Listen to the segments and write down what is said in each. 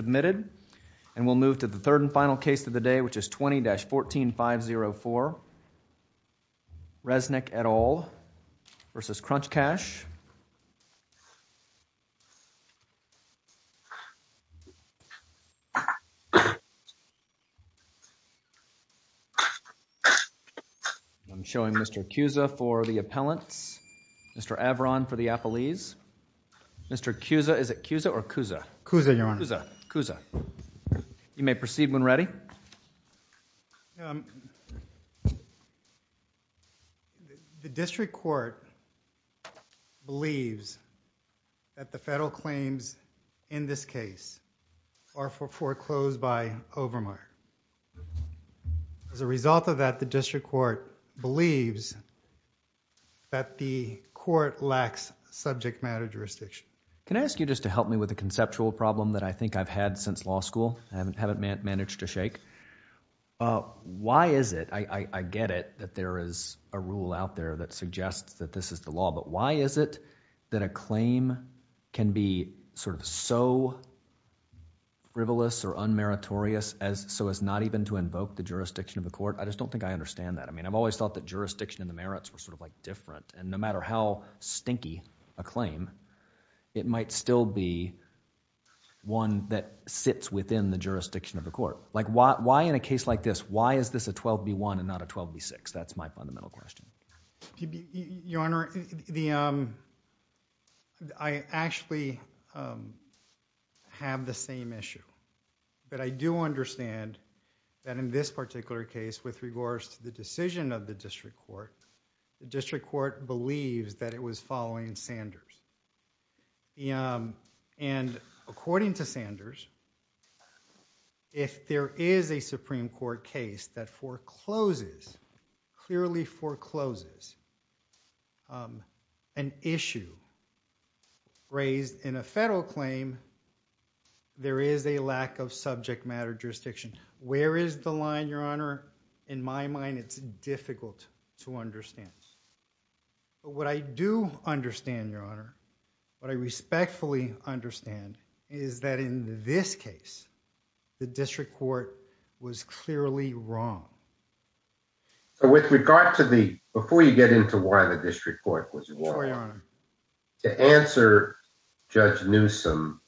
Submitted. And we'll move to the third and final case of the day, which is 20-14504. Resnick et al. v. KrunchCash. I'm showing Mr. Cusa for the appellants, Mr. Avron for the appellees. Mr. Cusa, is it Cusa or Cusa? Cusa, Your Honor. Cusa, Cusa. You may proceed when ready. The district court believes that the federal claims in this case are foreclosed by Overmark. As a result of that, the district court believes that the court lacks subject matter jurisdiction. Can I ask you just to help me with a conceptual problem that I think I've had since law school? I haven't managed to shake. Why is it, I get it that there is a rule out there that suggests that this is the law, but why is it that a claim can be sort of so frivolous or unmeritorious as so as not even to invoke the jurisdiction of the court? I just don't think I understand that. I mean, I've always thought that jurisdiction and the merits were sort of like different. And no matter how stinky a claim, it might still be one that sits within the jurisdiction of the court. Like why in a case like this, why is this a 12 v. 1 and not a 12 v. 6? That's my fundamental question. Your Honor, I actually have the same issue, but I do understand that in this particular case with regards to the decision of the district court, the district court believes that it was following Sanders. And according to Sanders, if there is a Supreme Court case that forecloses, clearly in a federal claim, there is a lack of subject matter jurisdiction. Where is the line? Your Honor, in my mind, it's difficult to understand. What I do understand, Your Honor, what I respectfully understand is that in this case, the district court was clearly wrong. So with regard to the, before you get into why the district court was wrong, Your Honor, to answer Judge Newsome,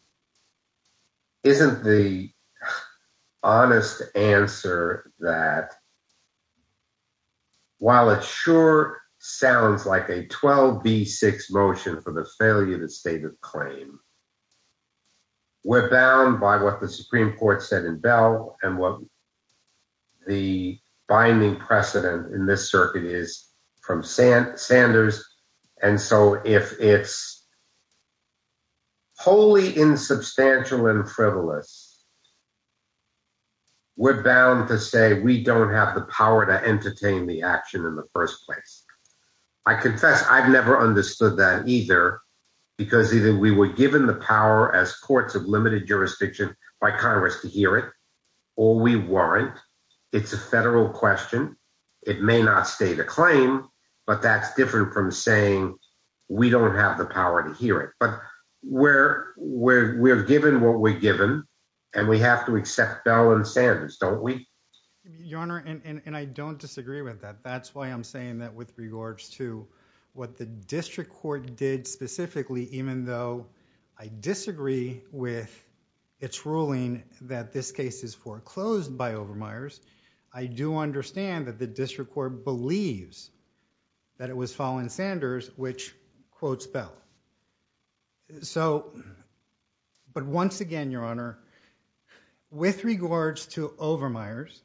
isn't the honest answer that while it sure sounds like a 12 v. 6 motion for the failure of the stated claim, we're bound by what the Supreme Court said in Bell and what the binding precedent in this circuit is from Sanders. And so if it's wholly insubstantial and frivolous, we're bound to say we don't have the power to entertain the action in the first place. I confess I've never understood that either, because either we were given the power as courts of limited jurisdiction by Congress to hear it, or we weren't. It's a federal question. It may not state a claim, but that's different from saying we don't have the power to hear it. But we're given what we're given, and we have to accept Bell and Sanders, don't we? Your Honor, and I don't disagree with that. That's why I'm saying that with regards to what the district court did specifically, even though I disagree with its ruling that this case is foreclosed by Overmeyer's, I do understand that the district court believes that it was Fallon Sanders which quotes Bell. But once again, Your Honor, with regards to Overmeyer's,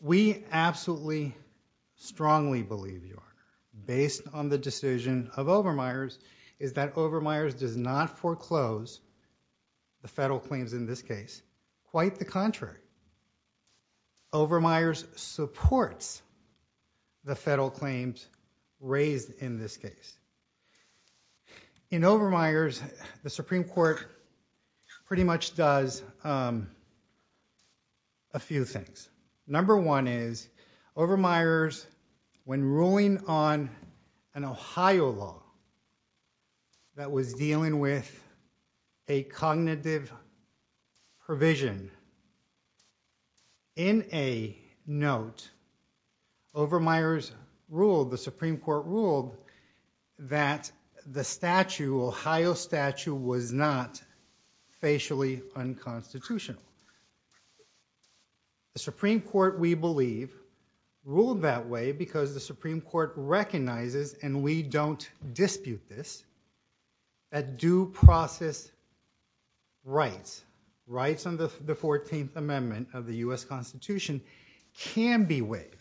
we absolutely strongly believe, Your Honor, based on the decision of Overmeyer's, is that Overmeyer's does not foreclose the federal claims in this case. Quite the contrary. Overmeyer's supports the federal claims raised in this case. In pretty much does a few things. Number one is Overmeyer's, when ruling on an Ohio law that was dealing with a cognitive provision, in a note, Overmeyer's ruled, the Supreme Court's statute was not facially unconstitutional. The Supreme Court, we believe, ruled that way because the Supreme Court recognizes, and we don't dispute this, that due process rights, rights under the 14th Amendment of the U.S. Constitution can be waived.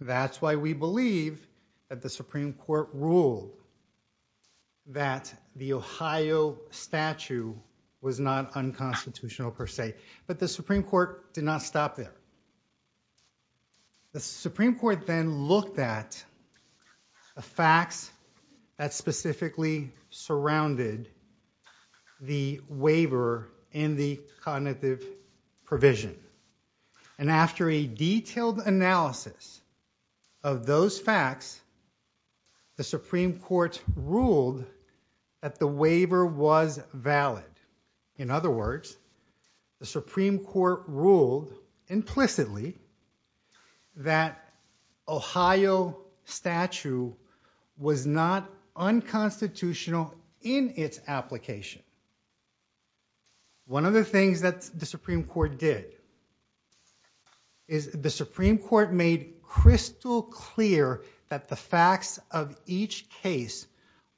That's why we believe that the Supreme Court ruled that the Ohio statute was not unconstitutional per se. But the Supreme Court did not stop there. The Supreme Court then looked at the facts that specifically surrounded the waiver and the cognitive provision. And after a detailed analysis of those facts, the Supreme Court ruled that the waiver was valid. In other words, the Supreme Court ruled implicitly that Ohio statute was not unconstitutional in its application. One of the things that the Supreme Court did is the Supreme Court made crystal clear that the facts of each case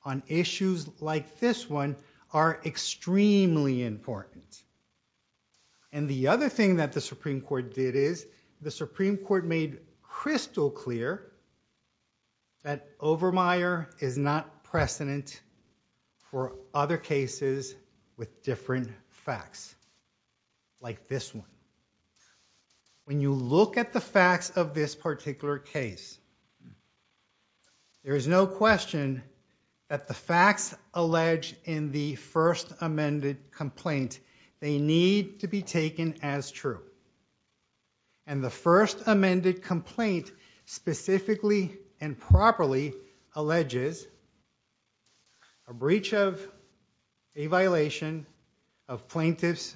on issues like this one are extremely important. And the other thing that the Supreme Court did is the Supreme Court made crystal clear that Overmeyer is not precedent for other cases with different facts like this one. When you look at the facts of this particular case, there is no question that the facts alleged in the first amended complaint, they need to be taken as true. And the first amended complaint specifically and properly alleges a breach of a violation of Plaintiff's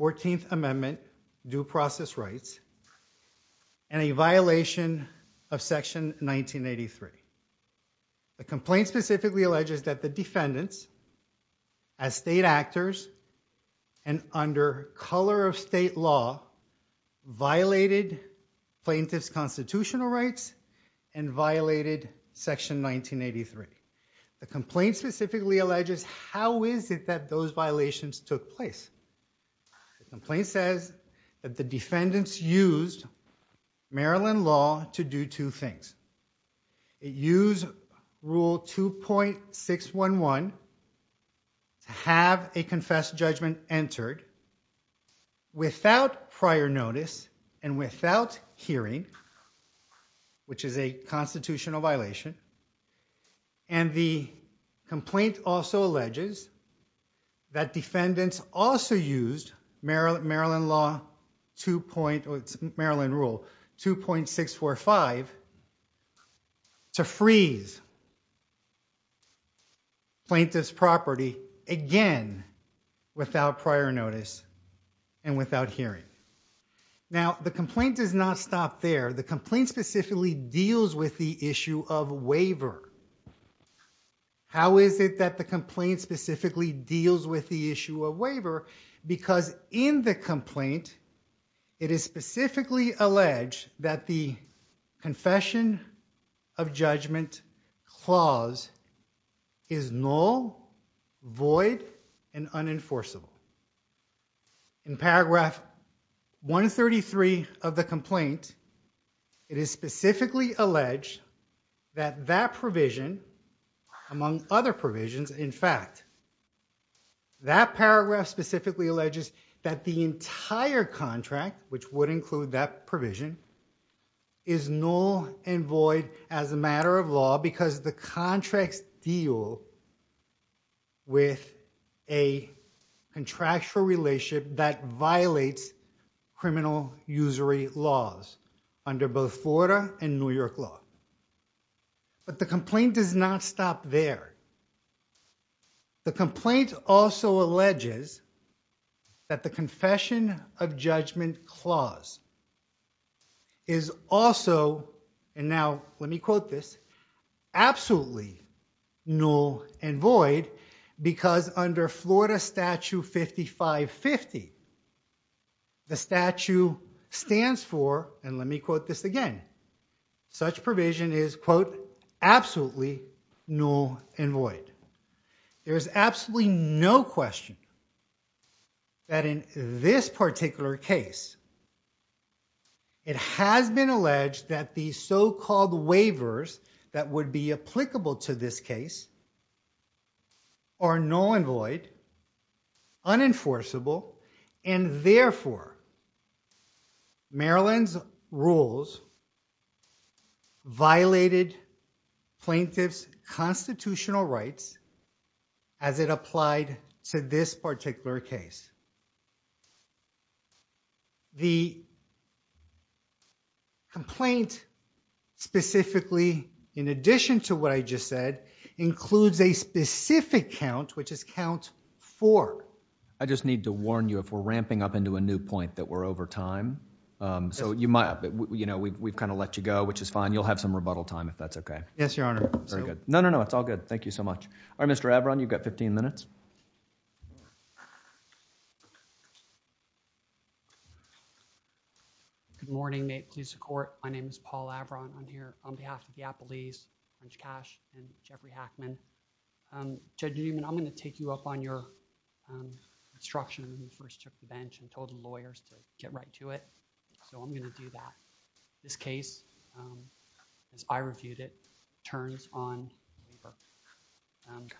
14th Amendment due process rights and a violation of section 1983. The complaint specifically alleges that the defendants as state actors and under color of state law violated plaintiff's constitutional rights and violated section 1983. The complaint specifically alleges how is it that those violations took place? The complaint says that the defendants used Maryland law to do two things. It used rule 2.611 to have a confess judgment entered without prior notice and without hearing, which is a constitutional violation. And the complaint also alleges that defendants also used Maryland law 2.645 to freeze plaintiff's property again without prior notice and without hearing. Now, the complaint does not stop there. The complaint specifically deals with the issue of waiver. How is it that the complaint specifically deals with the issue of waiver? Because in the complaint, it is specifically alleged that the confession of judgment clause is null, void, and unenforceable. In paragraph 133 of the complaint, it is specifically alleged that that provision, among other provisions, in fact, that paragraph specifically alleges that the entire contract, which would include that provision, is null and void as a because the contracts deal with a contractual relationship that violates criminal usury laws under both Florida and New York law. But the complaint does not stop there. The complaint also alleges that the confession of judgment clause is also, and now let me quote this, absolutely null and void because under Florida Statute 5550, the statute stands for, and let me quote this again, such provision is quote absolutely null and void. There is absolutely no question that in this particular case, it has been alleged that the so-called waivers that would be applicable to this case are null and void, unenforceable, and therefore, Maryland's rules violated plaintiff's constitutional rights as it applied to this particular case. And the complaint specifically, in addition to what I just said, includes a specific count, which is count four. I just need to warn you, if we're ramping up into a new point, that we're over time. So you might, you know, we've kind of let you go, which is fine. You'll have some rebuttal time if that's okay. Yes, your honor. Very good. No, no, no, it's all good. Thank you so much. All right, Mr. Averon, you've got 15 minutes. Good morning. May it please the court, my name is Paul Averon. I'm here on behalf of the Appellees, Judge Cash and Jeffrey Hackman. Judge Newman, I'm going to take you up on your instruction when you first took the bench and told the lawyers to get right to it. So I'm going to do that. This case, as I reviewed it, turns on waiver.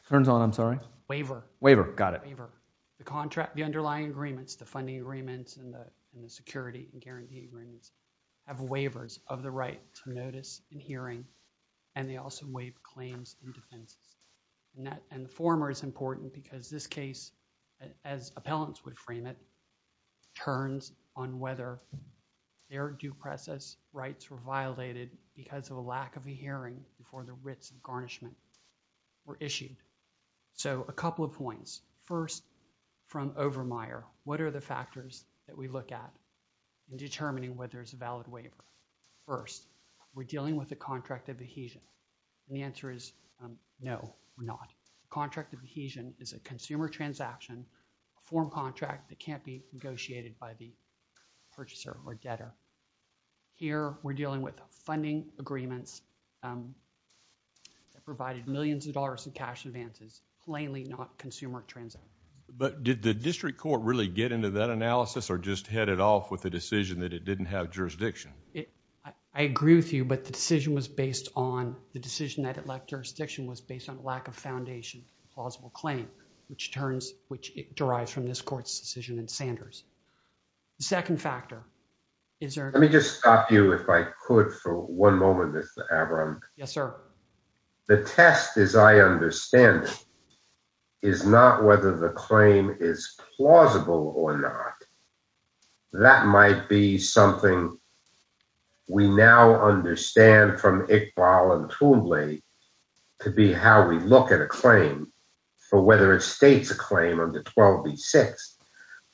Turns on, I'm sorry? Waiver. Waiver, got it. The contract, the underlying agreements, the funding agreements and the security and guarantee agreements have waivers of the right to notice and hearing, and they also waive claims and defenses. And the former is important because this case, as appellants would frame it, turns on whether their due process rights were violated because of a lack of a hearing before the writs and garnishment were issued. So a couple of points. First, from Overmyer, what are the factors that we look at in determining whether it's a valid waiver? First, we're dealing with a contract of adhesion. And the answer is no, we're not. A contract of adhesion is a consumer transaction, a foreign contract that can't be negotiated by the purchaser or debtor. Here, we're dealing with funding agreements that provided millions of dollars in cash advances, plainly not consumer transaction. But did the district court really get into that analysis or just head it off with the decision that it didn't have jurisdiction? I agree with you, but the decision was based on that it lacked jurisdiction was based on a lack of foundation for a plausible claim, which derives from this court's decision in Sanders. The second factor is- Let me just stop you, if I could, for one moment, Mr. Abram. Yes, sir. The test, as I understand it, is not whether the claim is plausible or not. That might be something we now understand from Kickball and Toombley to be how we look at a claim for whether it states a claim under 12B6.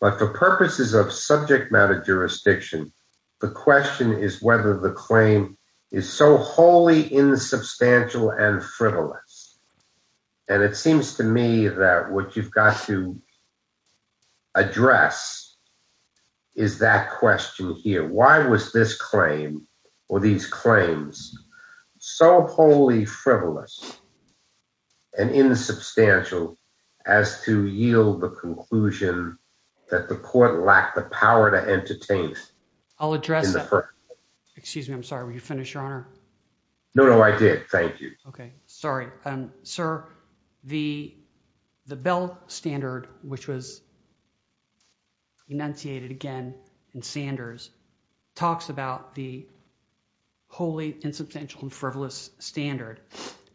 But for purposes of subject matter jurisdiction, the question is whether the claim is so wholly insubstantial and frivolous. And it seems to me that what you've got to address is that question here. Why was this claim or these claims so wholly frivolous and insubstantial as to yield the conclusion that the court lacked the power to entertain- I'll address that. Excuse me. I'm sorry. Will you finish, Your Honor? No, no, I did. Thank you. Okay. Sorry. Sir, the Bell standard, which was enunciated again in Sanders, talks about the wholly insubstantial and frivolous standard.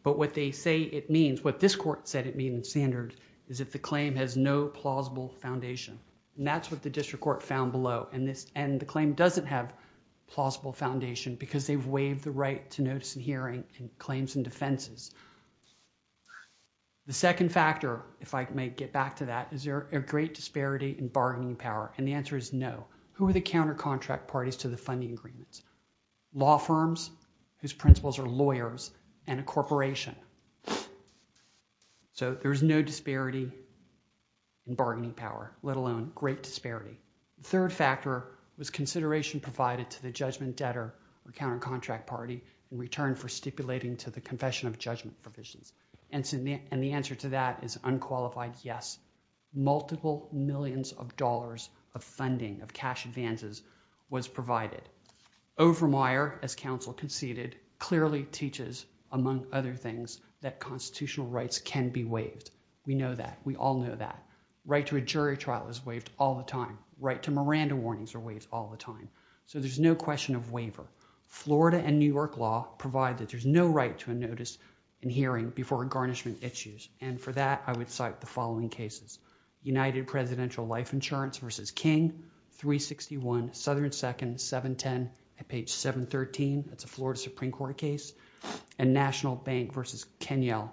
But what they say it means, what this court said it means in Sanders, is that the claim has no plausible foundation. And that's what the district court found below. And the claim doesn't have plausible foundation because they've waived the right to notice and hearing and claims and defenses. The second factor, if I may get back to that, is there a great disparity in bargaining power? And the answer is no. Who are the counter-contract parties to the funding agreements? Law firms whose principles are lawyers and a corporation. So there's no disparity in bargaining power, let alone great disparity. The third factor was consideration provided to judgment debtor or counter-contract party in return for stipulating to the confession of judgment provisions. And the answer to that is unqualified yes. Multiple millions of dollars of funding of cash advances was provided. Overmyer, as counsel conceded, clearly teaches, among other things, that constitutional rights can be waived. We know that. We all know that. Right to a jury trial is waived all the time. Right to Miranda warnings are waived all the time. So there's no question of waiver. Florida and New York law provide that there's no right to a notice and hearing before garnishment issues. And for that, I would cite the following cases. United Presidential Life Insurance v. King, 361 Southern 2nd, 710 at page 713. That's a Florida Supreme Court case. And National Bank v. Kenyell,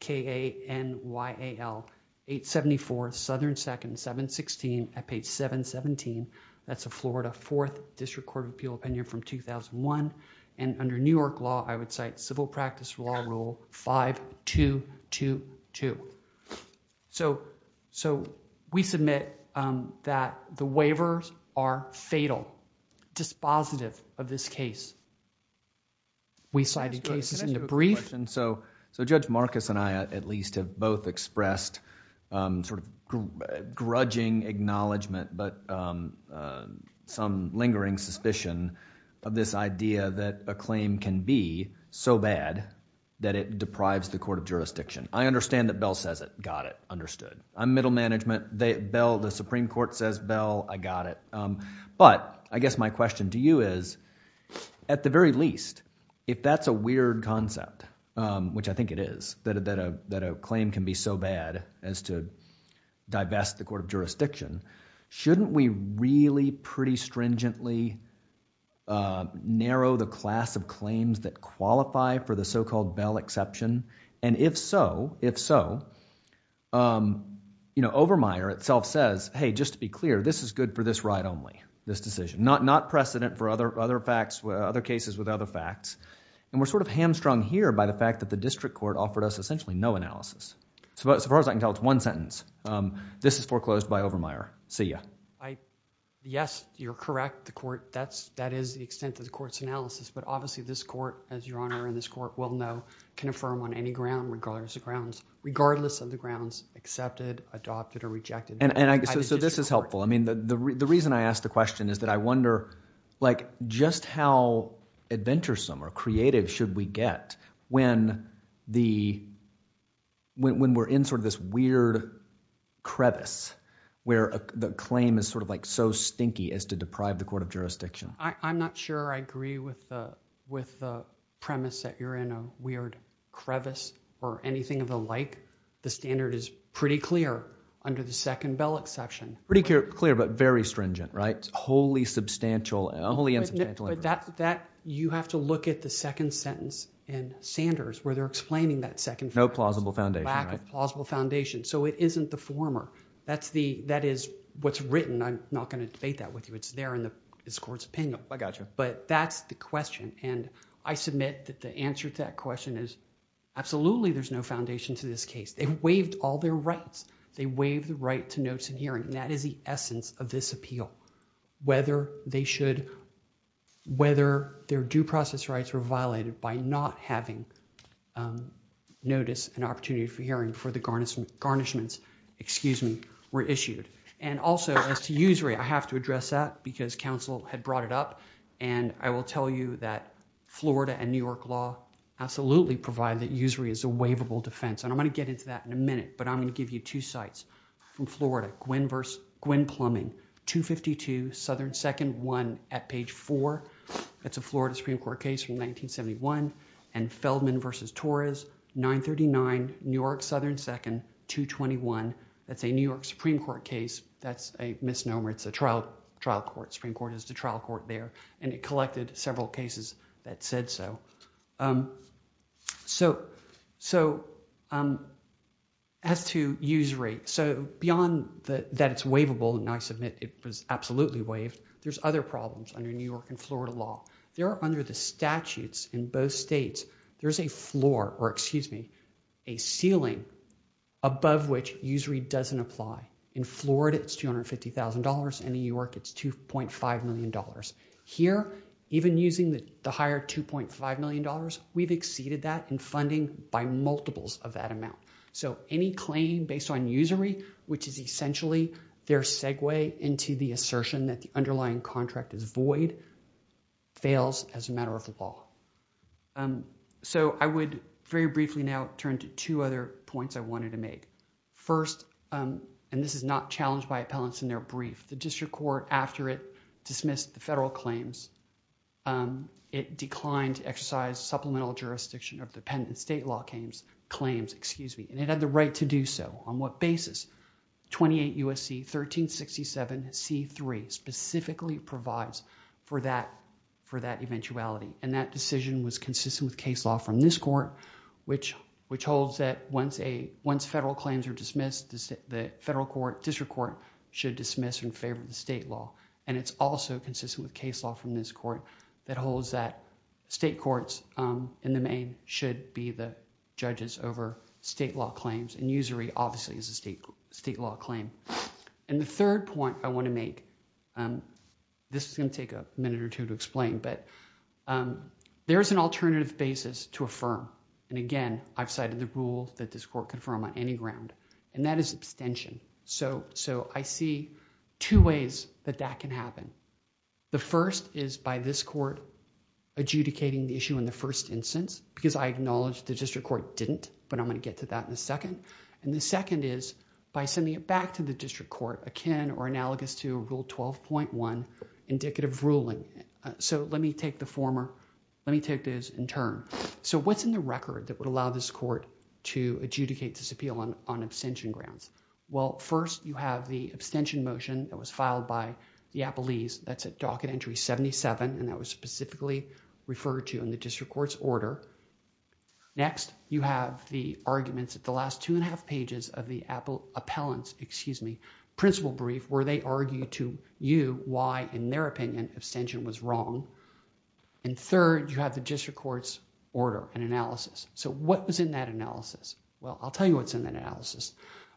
K-A-N-Y-A-L, 874 Southern 2nd, 716 at page 717. That's a Florida Fourth District Court of Appeal opinion from 2001. And under New York law, I would cite civil practice law rule 5222. So we submit that the waivers are fatal, dispositive of this case. We cited cases in the brief. Can I ask you a question? So Judge Marcus and I, at least, have both expressed sort of grudging acknowledgement, but some lingering suspicion of this idea that a claim can be so bad that it deprives the court of jurisdiction. I understand that Bell says it. Got it. Understood. I'm middle management. The Supreme Court says, Bell, I got it. But I guess my question to you is, at the very least, if that's a weird concept, which I think it is, that a claim can be so bad as to divest the court of jurisdiction, shouldn't we really pretty stringently narrow the class of claims that qualify for the so-called Bell exception? And if so, if so, you know, Overmyer itself says, hey, just to be clear, this is good for this right only, this decision. Not precedent for other facts, other cases with other facts. And we're sort of hamstrung here by the fact that the district court offered us essentially no analysis. So far as I can tell, it's one sentence. This is foreclosed by Overmyer. See ya. Yes, you're correct. The court, that is the extent of the court's analysis. But obviously, this court, as your Honor and this court will know, can affirm on any ground, regardless of grounds, regardless of the grounds accepted, adopted, or rejected by the district court. So this is helpful. I mean, the reason I asked the question is that I wonder, just how adventuresome or creative should we get when we're in sort of this weird crevice where the claim is sort of like so stinky as to deprive the court of jurisdiction? I'm not sure I agree with the premise that you're in a weird crevice or anything of the like. The standard is pretty clear under the second Bell exception. Pretty clear, but very stringent, right? Wholly substantial, wholly unsubstantial. But that, you have to look at the second sentence in Sanders, where they're explaining that second sentence. No plausible foundation, right? Lack of plausible foundation. So it isn't the former. That is what's written. I'm not going to debate that with you. It's there in this court's opinion. I gotcha. But that's the question. And I submit that the answer to that question is, absolutely, there's no foundation to this case. They waived all their rights. They waived the hearing. That is the essence of this appeal. Whether they should, whether their due process rights were violated by not having notice and opportunity for hearing for the garnishments, excuse me, were issued. And also, as to usury, I have to address that because counsel had brought it up. And I will tell you that Florida and New York law absolutely provide that usury is a waivable defense. And I'm going to get into that in a minute. But I'm going to give you two sites from Florida. Gwen Plumbing, 252 Southern 2nd, 1 at page 4. That's a Florida Supreme Court case from 1971. And Feldman v. Torres, 939 New York Southern 2nd, 221. That's a New York Supreme Court case. That's a misnomer. It's a trial court. Supreme Court is the trial court there. And it collected several cases that said so. So as to usury, so beyond that it's waivable, and I submit it was absolutely waived, there's other problems under New York and Florida law. There are under the statutes in both states, there's a floor, or excuse me, a ceiling above which usury doesn't apply. In Florida, it's $250,000. In New York, it's $2.5 million. Here, even using the higher $2.5 million, we've exceeded that in funding by multiples of that amount. So any claim based on usury, which is essentially their segue into the assertion that the underlying contract is void, fails as a matter of the law. So I would very briefly now turn to two other points I wanted to make. First, and this is not challenged by appellants in their brief, the district court after it dismissed the federal claims, it declined to exercise supplemental jurisdiction of dependent state law claims. And it had the right to do so. On what basis? 28 U.S.C. 1367 C.3 specifically provides for that eventuality. And that decision was consistent with case law from this court, which holds that once federal claims are dismissed, the federal court, should dismiss in favor of the state law. And it's also consistent with case law from this court that holds that state courts in the main should be the judges over state law claims. And usury obviously is a state law claim. And the third point I want to make, this is going to take a minute or two to explain, but there is an alternative basis to affirm. And again, I've So I see two ways that that can happen. The first is by this court adjudicating the issue in the first instance, because I acknowledge the district court didn't, but I'm going to get to that in a second. And the second is by sending it back to the district court akin or analogous to rule 12.1 indicative ruling. So let me take the former, let me take this in turn. So what's in the record that would allow this court to adjudicate this appeal on abstention grounds? Well, first you have the abstention motion that was filed by the appellees. That's at docket entry 77. And that was specifically referred to in the district court's order. Next, you have the arguments at the last two and a half pages of the appellants, excuse me, principal brief, where they argue to you why in their opinion, abstention was wrong. And third, you have the district court's order and analysis. So what was in that analysis? Well, I'll tell you what's in that analysis.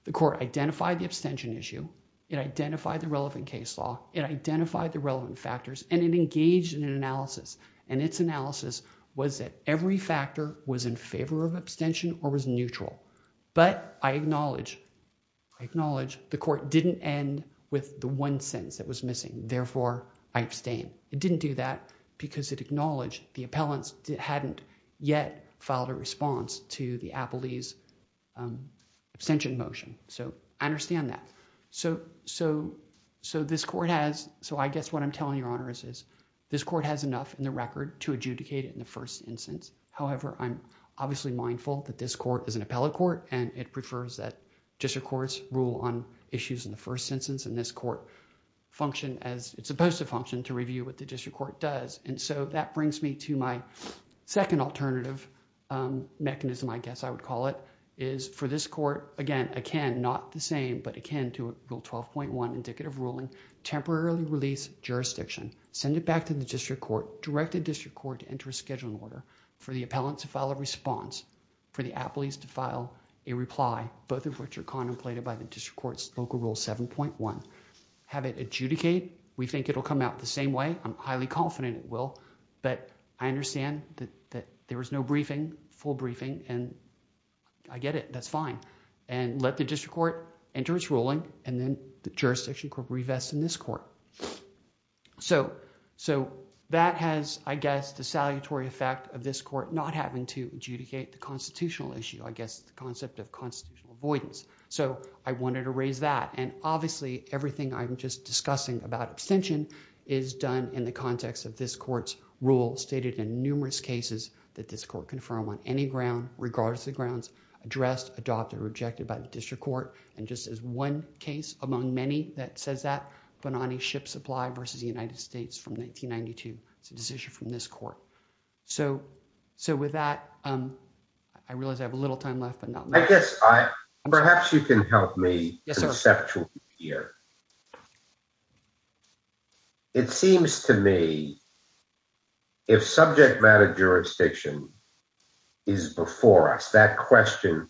The court identified the abstention issue. It identified the relevant case law. It identified the relevant factors and it engaged in an analysis and its analysis was that every factor was in favor of abstention or was neutral. But I acknowledge, I acknowledge the court didn't end with the one sentence that was missing. Therefore I abstain. It didn't do that because it acknowledged the appellants hadn't yet filed a response to the appellee's abstention motion. So I understand that. So this court has, so I guess what I'm telling your honor is this court has enough in the record to adjudicate it in the first instance. However, I'm obviously mindful that this court is an appellate court and it prefers that district courts rule on issues in the first instance and this court function as it's supposed to function to review what the district court does. And so that brings me to my second alternative mechanism, I guess I would call it, is for this court, again, akin, not the same, but akin to rule 12.1 indicative ruling, temporarily release jurisdiction, send it back to the district court, direct the district court to enter a scheduling order for the appellant to file a response, for the appellees to file a reply, both of which are contemplated by the district court's local rule 7.1. Have it adjudicate. We think it'll come out the same way. I'm highly confident it will, but I understand that there was no briefing, full briefing, and I get it, that's fine. And let the district court enter its ruling and then the jurisdiction court revests in this court. So that has, I guess, the salutary effect of this court not having to adjudicate the constitutional issue, I guess the concept of constitutional avoidance. So I wanted to raise that and obviously everything I'm just discussing about abstention is done in the context of this court's rule stated in numerous cases that this court confirm on any ground, regardless of the grounds, addressed, adopted, or rejected by the district court. And just as one case among many that says that, Bonanni Ship Supply versus the United States from 1992. It's a decision from this court. So with that, I realize I have a little time left. I guess perhaps you can help me conceptually here. It seems to me if subject matter jurisdiction is before us, that question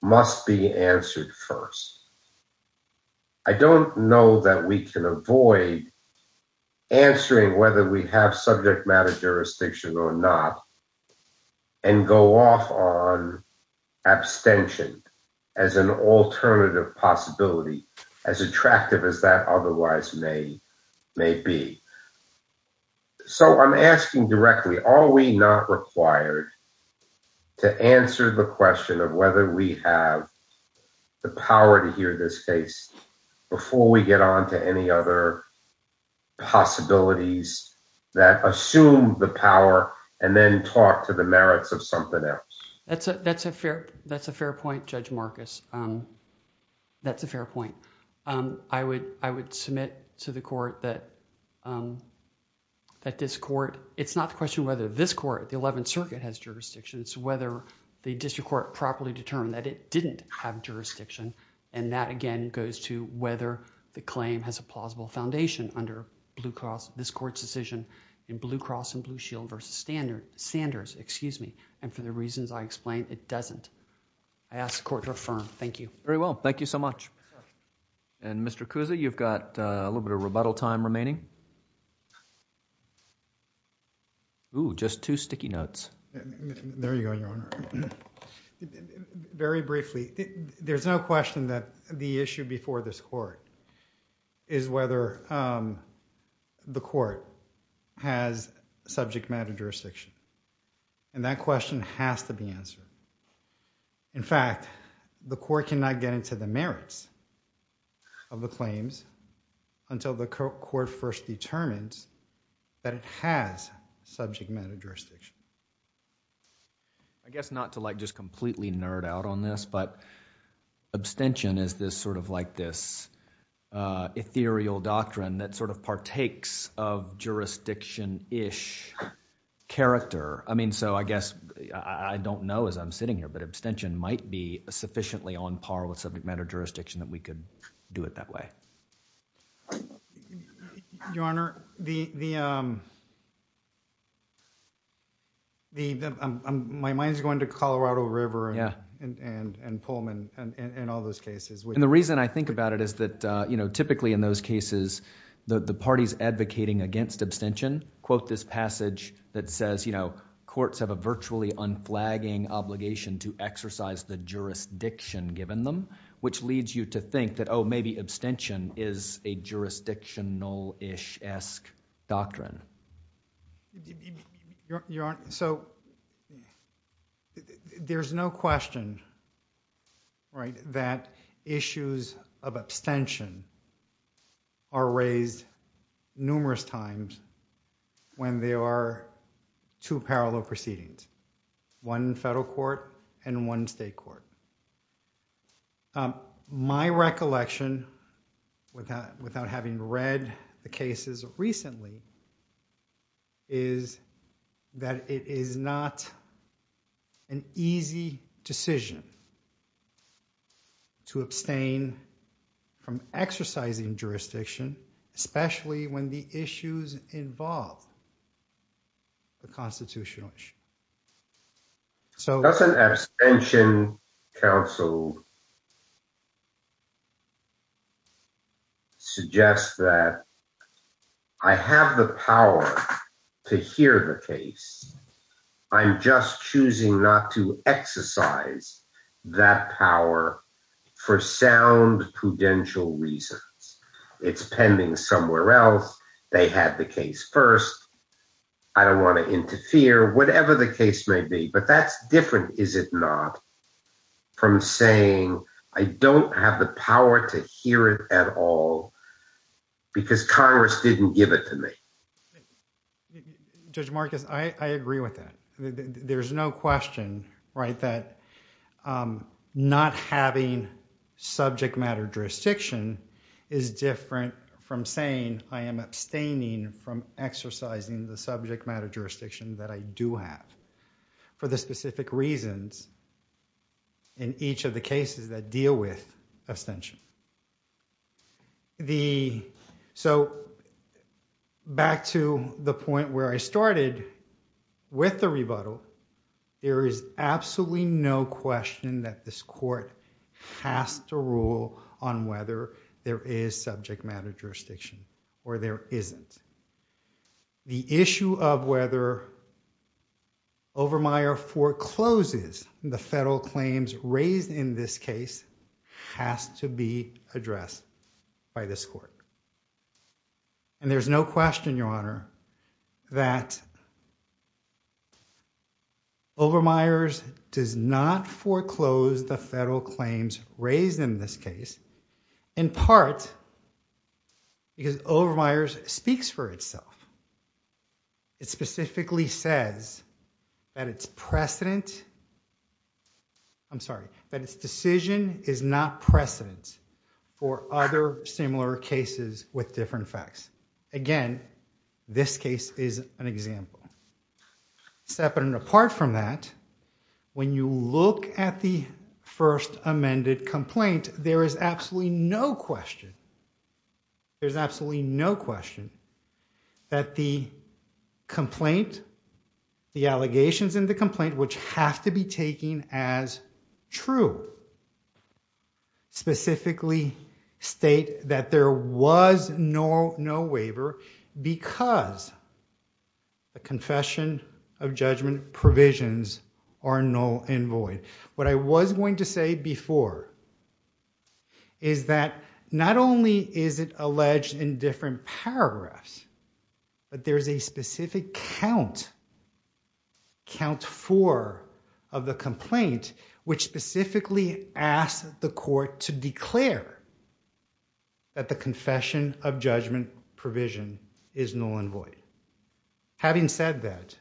must be answered first. I don't know that we can abstention as an alternative possibility, as attractive as that otherwise may be. So I'm asking directly, are we not required to answer the question of whether we have the power to hear this case before we get on to any other possibilities that assume the power and then talk to the merits of something else? That's a fair point, Judge Marcus. That's a fair point. I would submit to the court that this court, it's not the question whether this court, the 11th Circuit has jurisdictions, whether the district court properly determined that it didn't have jurisdiction. And that again goes to whether the claim has a plausible foundation under this court's decision in Blue Cross and Blue Shield versus Sanders. And for the reasons I explained, it doesn't. I ask the court to affirm. Thank you. Very well. Thank you so much. And Mr. Cusa, you've got a little bit of rebuttal time remaining. Oh, just two sticky notes. There you go, Your Honor. Very briefly, there's no question that the issue before this court is whether the court has subject matter jurisdiction. And that question has to be answered. In fact, the court cannot get into the merits of the claims until the court first determines that it has subject matter jurisdiction. I guess not to like just completely nerd out on this, but abstention is this sort of like this ethereal doctrine that sort of partakes of jurisdiction-ish character. I mean, so I guess, I don't know as I'm sitting here, but abstention might be sufficiently on par with subject matter jurisdiction that we could do it that way. Your Honor, my mind is going to Colorado River and Pullman and all those cases. And the reason I think about it is that typically in those cases, the parties advocating against abstention quote this passage that says courts have a virtually unflagging obligation to exercise the jurisdiction given them, which leads you to think that, oh, maybe abstention is a jurisdictional-ish-esque doctrine. Your Honor, so there's no question that issues of abstention are raised numerous times when there are two parallel proceedings, one in federal court and one state court. My recollection without having read the cases recently is that it is not an easy decision to abstain from exercising jurisdiction, especially when the issues involve the constitutional issue. Doesn't abstention counsel suggest that I have the power to hear the case. I'm just choosing not to exercise that power for sound prudential reasons. It's pending somewhere else. They had the case first. I don't want to interfere, whatever the case may be. But that's different, is it not, from saying I don't have the power to hear it at all because Congress didn't give it to me. Judge Marcus, I agree with that. There's no question that not having subject matter jurisdiction is different from saying I am abstaining from exercising the subject matter jurisdiction that I do have for the specific reasons in each of the cases that deal with abstention. Back to the point where I started with the rebuttal, there is absolutely no question that this court has to rule on whether there is subject matter jurisdiction or there isn't. The issue of whether Overmyer forecloses the federal claims raised in this case has to be addressed by this court. And there's no question, Your Honor, that Overmyer does not foreclose the federal claims raised in this case in part because Overmyer speaks for itself. It specifically says that its decision is not precedent for other similar cases with different facts. Again, this case is an example. Separate and apart from that, when you look at the first amended complaint, there is absolutely no question, there's absolutely no question that the complaint, the allegations in the complaint, which have to be taken as true, specifically state that there was no waiver because the confession of judgment provisions are null and void. What I was going to say before is that not only is it alleged in different paragraphs, but there's a specific count, count four of the complaint, which specifically asks the court to declare that the confession of judgment provision is null and void. Having said that,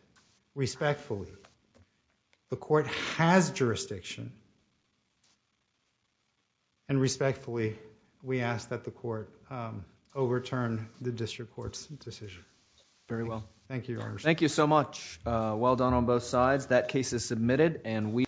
respectfully, the court has jurisdiction and respectfully, we ask that the court overturn the district court's decision. Thank you, Your Honor. Thank you so much. Well done on both sides. That case is submitted